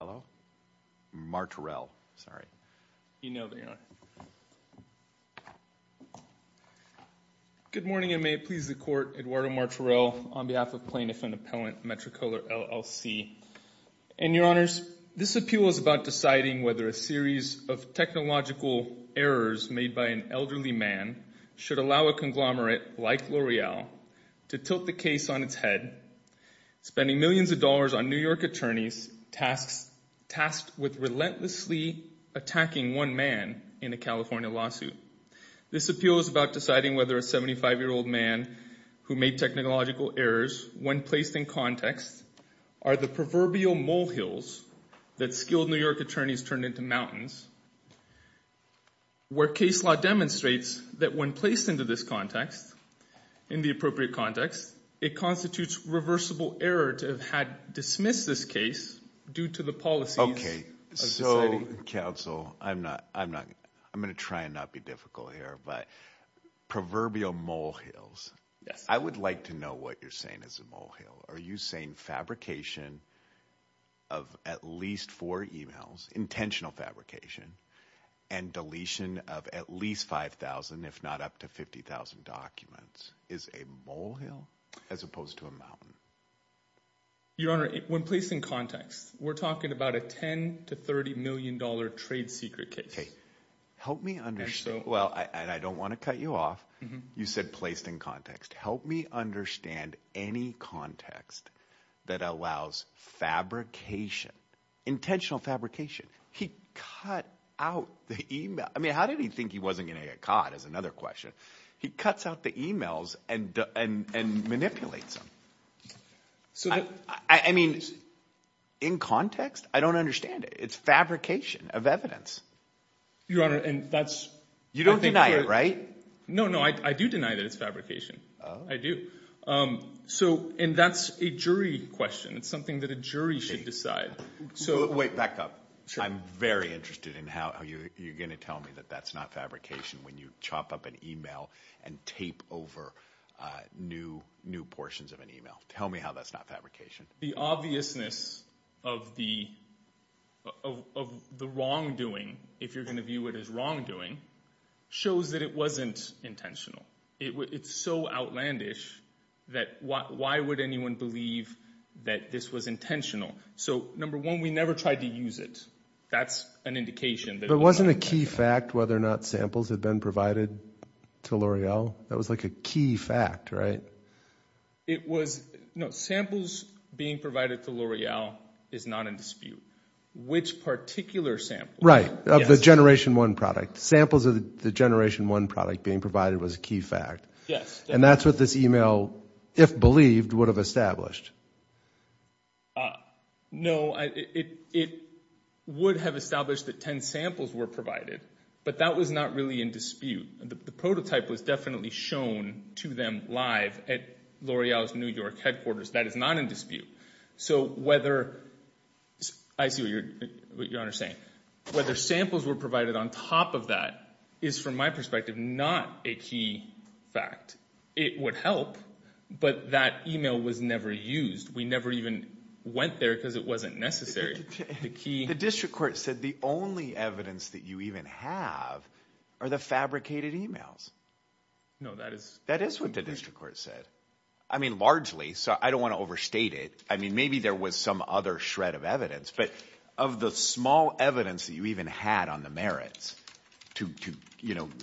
Hello? Martorell, sorry. You know they are. Good morning and may it please the court. Eduardo Martorell on behalf of plaintiff and appellant Metricolor LLC and your honors. This appeal is about deciding whether a series of technological errors made by an elderly man should allow a conglomerate like L'Oreal to tilt the case on its head, spending millions of dollars on New York attorneys, tasked with relentlessly attacking one man in a California lawsuit. This appeal is about deciding whether a 75-year-old man who made technological errors, when placed in context, are the proverbial mole hills that skilled New York attorneys turned into mountains, where case law demonstrates that when placed into this context, in the appropriate context, it constitutes reversible error to have had dismissed this case, due to the policies. Okay. So counsel, I'm not, I'm not, I'm going to try and not be difficult here, but proverbial mole hills. Yes. I would like to know what you're saying is a mole hill. Are you saying fabrication of at least four emails, intentional fabrication and deletion of at least 5,000, if not up to 50,000 documents is a mole hill as opposed to a mountain? Your Honor, when placed in context, we're talking about a 10 to $30 million trade secret case. Well, and I don't want to cut you off. You said placed in context. Help me understand any context that allows fabrication, intentional fabrication. He cut out the email. I mean, how did he think he wasn't going to get caught is another question. He cuts out the emails and manipulates them. I mean, in context, I don't understand it. It's fabrication of evidence. Your Honor. And that's, you don't deny it, right? No, no. I do deny that it's fabrication. I do. So, and that's a jury question. It's something that a jury should decide. Wait, back up. I'm very interested in how you're going to tell me that that's not fabrication when you chop up an email and tape over new portions of an email. Tell me how that's not fabrication. The obviousness of the wrongdoing, if you're going to view it as wrongdoing, shows that it wasn't intentional. It's so outlandish that why would anyone believe that this was intentional? So, number one, we never tried to use it. That's an indication. But wasn't a key fact whether or not samples had been provided to L'Oreal? That was like a key fact, right? It was, no, samples being provided to L'Oreal is not in dispute. Which particular sample? Right, of the Generation 1 product. Samples of the Generation 1 product being provided was a key fact. Yes. And that's what this email, if believed, would have established. No, it would have established that 10 samples were provided, but that was not really in dispute. The prototype was definitely shown to them live at L'Oreal's New York headquarters. That is not in dispute. So whether, I see what you're saying, whether samples were provided on top of that is, from my perspective, not a key fact. It would help, but that email was never used. We never even went there because it wasn't necessary. The district court said the only evidence that you even have are the fabricated emails. No, that is. That is what the district court said. I mean, largely, so I don't want to overstate it. I mean, maybe there was some other shred of evidence, but of the small evidence that you even had on the merits to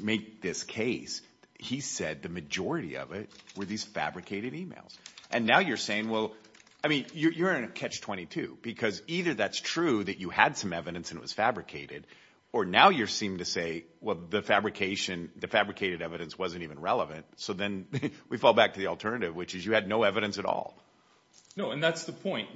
make this case, he said the majority of it were these fabricated emails. And now you're saying, well, I mean, you're in catch 22, because either that's true that you had some evidence and it was fabricated, or now you seem to say, well, the fabrication, the fabricated evidence wasn't even relevant. So then we fall back to the alternative, which is you had no evidence at all. No, and that's the point.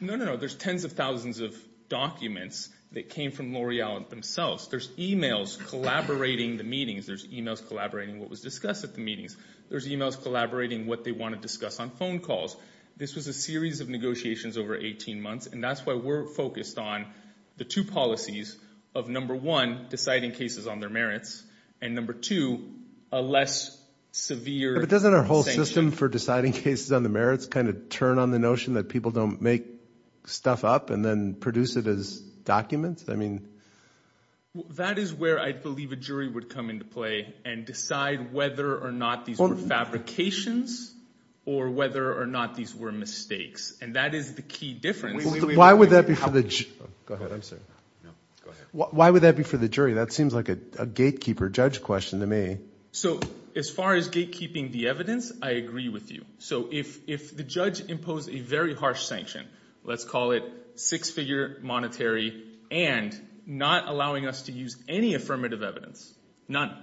No, no, no. There's tens of thousands of documents that came from L'Oreal themselves. There's emails collaborating the meetings. There's emails collaborating what was discussed at the meetings. There's emails collaborating what they want to discuss on phone calls. This was a series of negotiations over 18 months, and that's why we're focused on the two policies of, number one, deciding cases on their merits, and, number two, a less severe sanction. Doesn't the system for deciding cases on the merits kind of turn on the notion that people don't make stuff up and then produce it as documents? That is where I believe a jury would come into play and decide whether or not these were fabrications or whether or not these were mistakes, and that is the key difference. Why would that be for the jury? That seems like a gatekeeper judge question to me. So as far as gatekeeping the evidence, I agree with you. So if the judge imposed a very harsh sanction, let's call it six-figure monetary and not allowing us to use any affirmative evidence, none,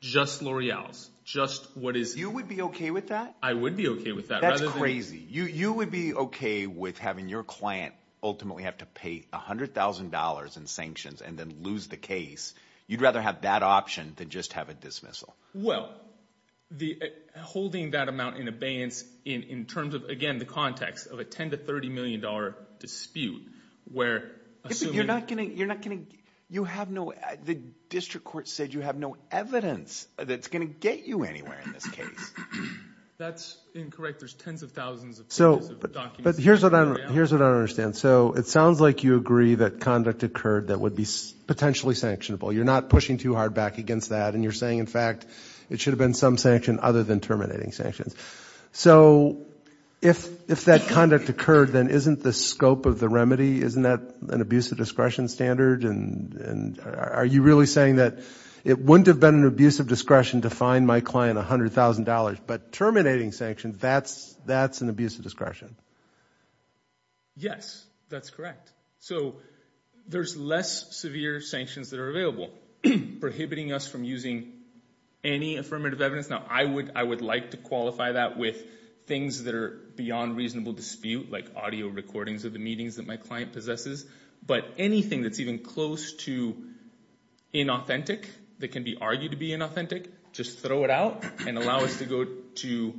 just L'Oreal's, just what is – You would be okay with that? I would be okay with that. That's crazy. You would be okay with having your client ultimately have to pay $100,000 in sanctions and then lose the case. You'd rather have that option than just have a dismissal? Well, holding that amount in abeyance in terms of, again, the context of a $10 million to $30 million dispute where – You're not going to – you have no – the district court said you have no evidence that's going to get you anywhere in this case. That's incorrect. There's tens of thousands of pages of documents. But here's what I don't understand. So it sounds like you agree that conduct occurred that would be potentially sanctionable. You're not pushing too hard back against that, and you're saying, in fact, it should have been some sanction other than terminating sanctions. So if that conduct occurred, then isn't the scope of the remedy – isn't that an abuse of discretion standard? And are you really saying that it wouldn't have been an abuse of discretion to fine my client $100,000, but terminating sanctions, that's an abuse of discretion? Yes, that's correct. So there's less severe sanctions that are available prohibiting us from using any affirmative evidence. Now, I would like to qualify that with things that are beyond reasonable dispute, like audio recordings of the meetings that my client possesses. But anything that's even close to inauthentic that can be argued to be inauthentic, just throw it out and allow us to go to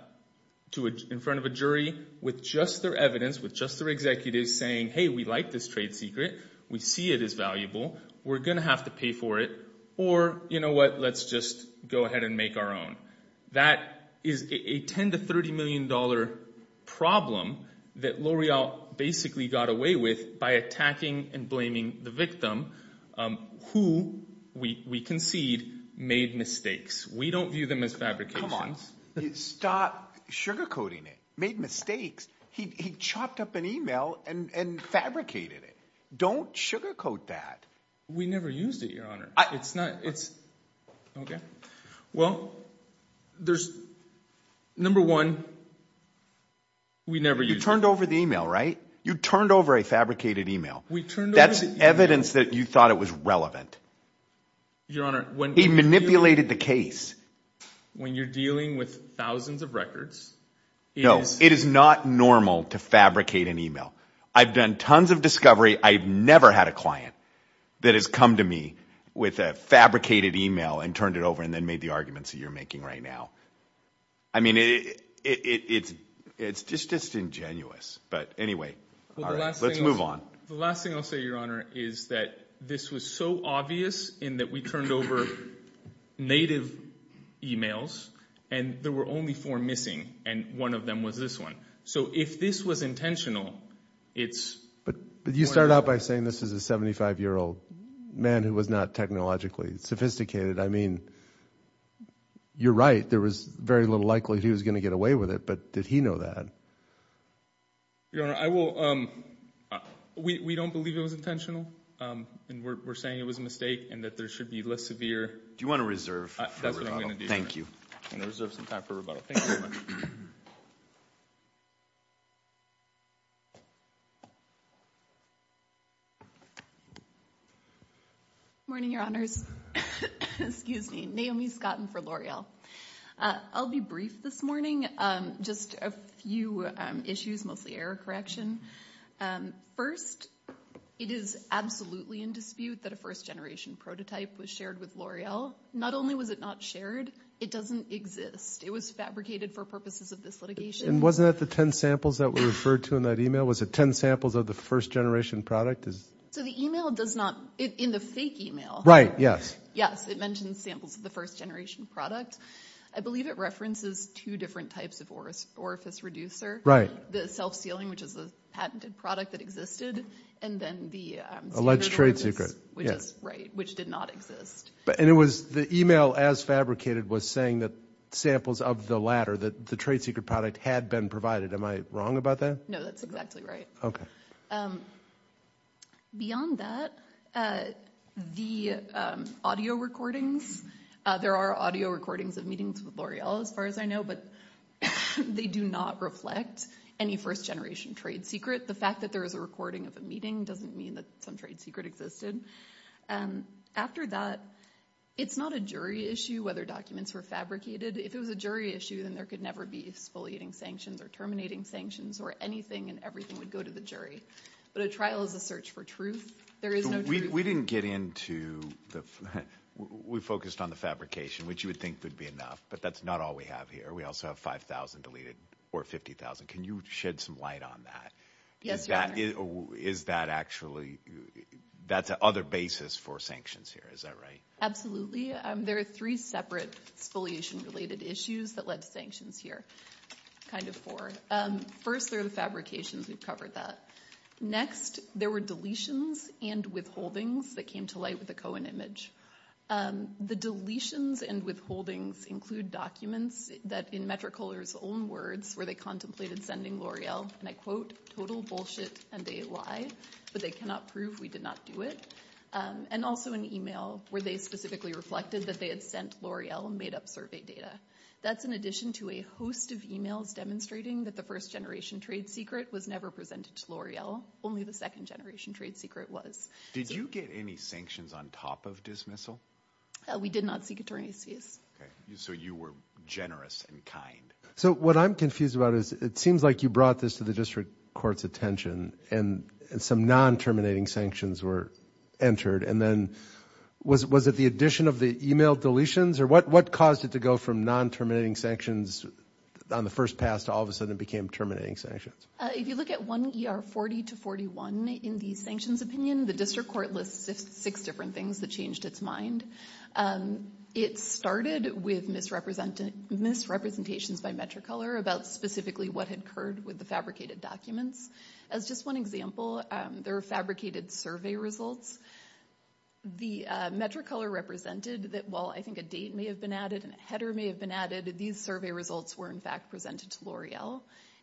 – in front of a jury with just their evidence, with just their executives saying, hey, we like this trade secret. We see it as valuable. We're going to have to pay for it. Or, you know what, let's just go ahead and make our own. That is a $10 million to $30 million problem that L'Oreal basically got away with by attacking and blaming the victim who, we concede, made mistakes. We don't view them as fabrications. Stop sugarcoating it. Made mistakes. He chopped up an email and fabricated it. Don't sugarcoat that. We never used it, Your Honor. It's not – it's – OK. Well, there's – number one, we never used it. You turned over the email, right? You turned over a fabricated email. We turned over the email. That's evidence that you thought it was relevant. Your Honor, when – He manipulated the case. When you're dealing with thousands of records, it is – No, it is not normal to fabricate an email. I've done tons of discovery. I've never had a client that has come to me with a fabricated email and turned it over and then made the arguments that you're making right now. I mean it's just ingenuous. But anyway, all right, let's move on. The last thing I'll say, Your Honor, is that this was so obvious in that we turned over native emails and there were only four missing and one of them was this one. So if this was intentional, it's – But you started out by saying this is a 75-year-old man who was not technologically sophisticated. I mean you're right. There was very little likelihood he was going to get away with it, but did he know that? Your Honor, I will – we don't believe it was intentional and we're saying it was a mistake and that there should be less severe – Do you want to reserve for rebuttal? That's what I'm going to do, Your Honor. Thank you. I'm going to reserve some time for rebuttal. Thank you very much. Good morning, Your Honors. Excuse me. Naomi Scotten for L'Oreal. I'll be brief this morning, just a few issues, mostly error correction. First, it is absolutely in dispute that a first-generation prototype was shared with L'Oreal. Not only was it not shared, it doesn't exist. It was fabricated for purposes of this litigation. And wasn't that the ten samples that were referred to in that email? Was it ten samples of the first-generation product? So the email does not – in the fake email. Right, yes. Yes, it mentions samples of the first-generation product. I believe it references two different types of orifice reducer. The self-sealing, which is a patented product that existed, and then the standard orifice. Alleged trade secret, yes. Right, which did not exist. And it was – the email, as fabricated, was saying that samples of the latter, the trade secret product, had been provided. Am I wrong about that? No, that's exactly right. Okay. Beyond that, the audio recordings – there are audio recordings of meetings with L'Oreal, as far as I know, but they do not reflect any first-generation trade secret. The fact that there is a recording of a meeting doesn't mean that some trade secret existed. After that, it's not a jury issue whether documents were fabricated. If it was a jury issue, then there could never be exfoliating sanctions or terminating sanctions or anything and everything would go to the jury. But a trial is a search for truth. There is no truth. We didn't get into the – we focused on the fabrication, which you would think would be enough, but that's not all we have here. We also have 5,000 deleted or 50,000. Can you shed some light on that? Yes, Your Honor. Is that actually – that's a other basis for sanctions here, is that right? Absolutely. There are three separate exfoliation-related issues that led to sanctions here, kind of four. First, there are the fabrications. We've covered that. Next, there were deletions and withholdings that came to light with the Cohen image. The deletions and withholdings include documents that, in Metricola's own words, where they contemplated sending L'Oreal, and I quote, total bullshit and a lie, but they cannot prove we did not do it. And also an email where they specifically reflected that they had sent L'Oreal and made up survey data. That's in addition to a host of emails demonstrating that the first-generation trade secret was never presented to L'Oreal. Only the second-generation trade secret was. Did you get any sanctions on top of dismissal? We did not seek attorney's fees. Okay. So you were generous and kind. So what I'm confused about is it seems like you brought this to the district court's attention and some non-terminating sanctions were entered, and then was it the addition of the email deletions? Or what caused it to go from non-terminating sanctions on the first pass to all of a sudden it became terminating sanctions? If you look at 1 ER 40 to 41 in the sanctions opinion, the district court lists six different things that changed its mind. It started with misrepresentations by Metricolor about specifically what had occurred with the fabricated documents. As just one example, there were fabricated survey results. The Metricolor represented that while I think a date may have been added and a header may have been added, these survey results were in fact presented to L'Oreal.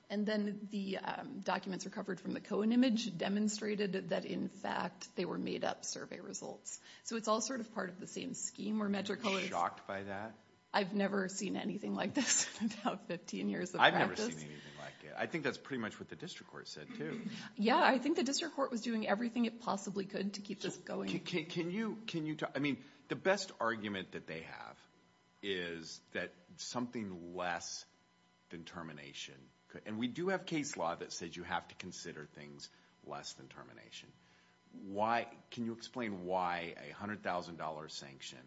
And then the documents recovered from the Cohen image demonstrated that, in fact, they were made-up survey results. So it's all sort of part of the same scheme where Metricolor is – Are you shocked by that? I've never seen anything like this in about 15 years of practice. I've never seen anything like it. I think that's pretty much what the district court said, too. Yeah, I think the district court was doing everything it possibly could to keep this going. Can you – I mean, the best argument that they have is that something less than termination – and we do have case law that says you have to consider things less than termination. Why – can you explain why a $100,000 sanction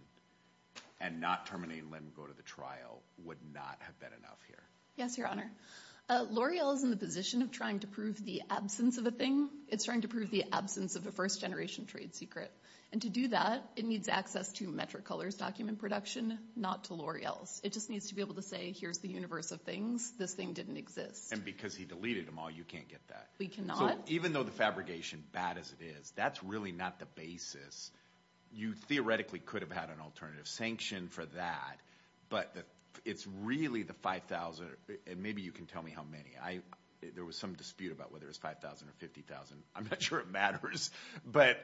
and not terminating LIMGO to the trial would not have been enough here? Yes, Your Honor. L'Oreal is in the position of trying to prove the absence of a thing. It's trying to prove the absence of a first-generation trade secret. And to do that, it needs access to Metricolor's document production, not to L'Oreal's. It just needs to be able to say, here's the universe of things. This thing didn't exist. And because he deleted them all, you can't get that. We cannot. So even though the fabrication, bad as it is, that's really not the basis. You theoretically could have had an alternative sanction for that, but it's really the $5,000 – and maybe you can tell me how many. There was some dispute about whether it was $5,000 or $50,000. I'm not sure it matters. But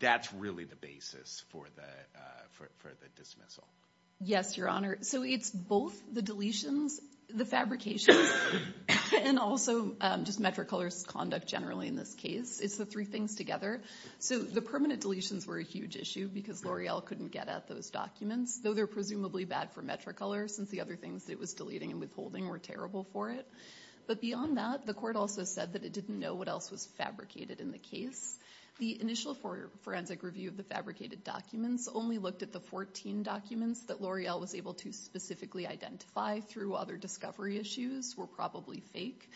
that's really the basis for the dismissal. Yes, Your Honor. So it's both the deletions, the fabrications, and also just Metricolor's conduct generally in this case. It's the three things together. So the permanent deletions were a huge issue because L'Oreal couldn't get at those documents, though they're presumably bad for Metricolor since the other things it was deleting and withholding were terrible for it. But beyond that, the court also said that it didn't know what else was fabricated in the case. The initial forensic review of the fabricated documents only looked at the 14 documents that L'Oreal was able to specifically identify through other discovery issues were probably fake.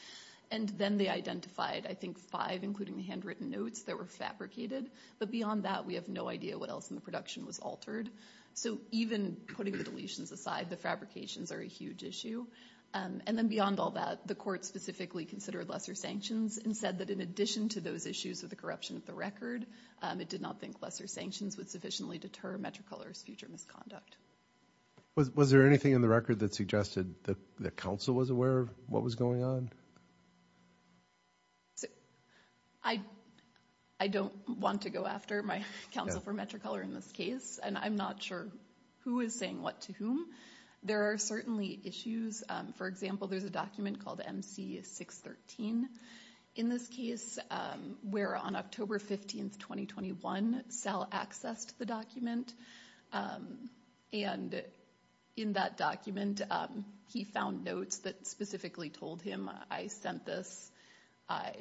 And then they identified, I think, five, including the handwritten notes that were fabricated. But beyond that, we have no idea what else in the production was altered. So even putting the deletions aside, the fabrications are a huge issue. And then beyond all that, the court specifically considered lesser sanctions and said that in addition to those issues with the corruption of the record, it did not think lesser sanctions would sufficiently deter Metricolor's future misconduct. Was there anything in the record that suggested that the council was aware of what was going on? I don't want to go after my counsel for Metricolor in this case, and I'm not sure who is saying what to whom. There are certainly issues. For example, there's a document called MC 613 in this case, where on October 15, 2021, Sal accessed the document. And in that document, he found notes that specifically told him, I sent this, I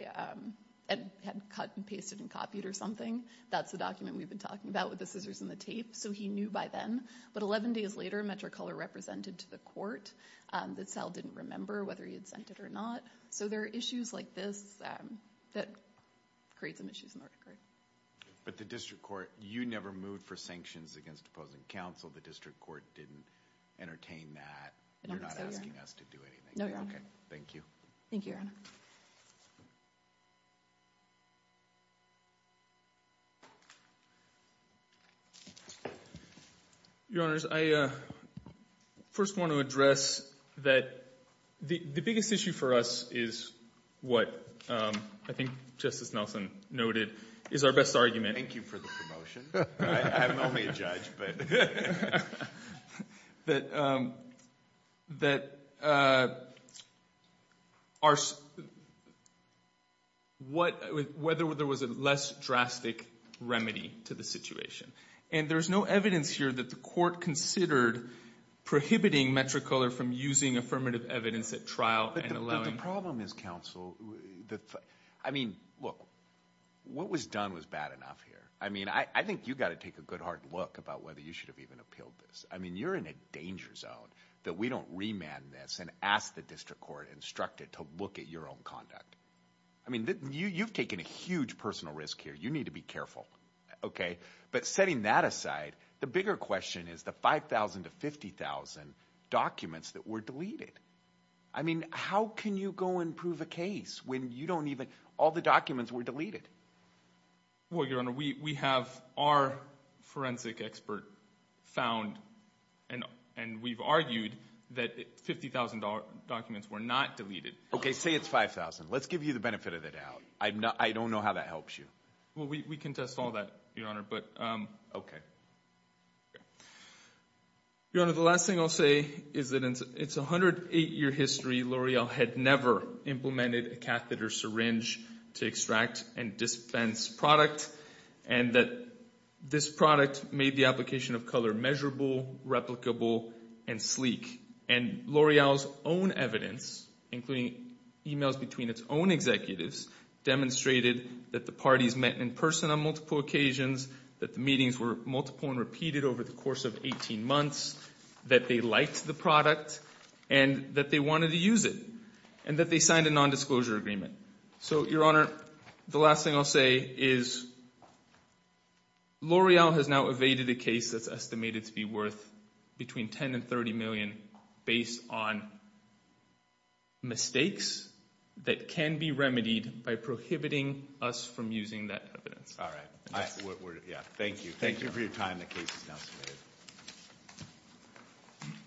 had cut and pasted and copied or something. That's the document we've been talking about with the scissors and the tape. So he knew by then. But 11 days later, Metricolor represented to the court that Sal didn't remember whether he had sent it or not. So there are issues like this that create some issues in the record. But the district court, you never moved for sanctions against opposing counsel. The district court didn't entertain that. You're not asking us to do anything. No, Your Honor. Thank you. Thank you, Your Honor. Your Honors, I first want to address that the biggest issue for us is what I think Justice Nelson noted is our best argument. Thank you for the promotion. I'm only a judge. But that are what whether there was a less drastic remedy to the situation. And there is no evidence here that the court considered prohibiting Metricolor from using affirmative evidence at trial. And the problem is counsel. I mean, look, what was done was bad enough here. I mean, I think you got to take a good hard look about whether you should have even appealed this. I mean, you're in a danger zone that we don't remand this and ask the district court instructed to look at your own conduct. I mean, you've taken a huge personal risk here. You need to be careful. OK, but setting that aside, the bigger question is the 5000 to 50000 documents that were deleted. I mean, how can you go and prove a case when you don't even all the documents were deleted? Well, your honor, we have our forensic expert found and and we've argued that 50000 documents were not deleted. OK, say it's 5000. Let's give you the benefit of the doubt. I don't know how that helps you. Well, we can test all that, your honor. But OK. Your honor, the last thing I'll say is that it's a hundred eight year history. L'Oreal had never implemented a catheter syringe to extract and dispense product and that this product made the application of color measurable, replicable and sleek. And L'Oreal's own evidence, including emails between its own executives, demonstrated that the parties met in person on multiple occasions, that the meetings were multiple and repeated over the course of 18 months, that they liked the product and that they wanted to use it and that they signed a nondisclosure agreement. So, your honor, the last thing I'll say is L'Oreal has now evaded a case that's estimated to be worth between 10 and 30 million based on. Mistakes that can be remedied by prohibiting us from using that. All right. Yeah. Thank you. Thank you for your time. The case is now submitted.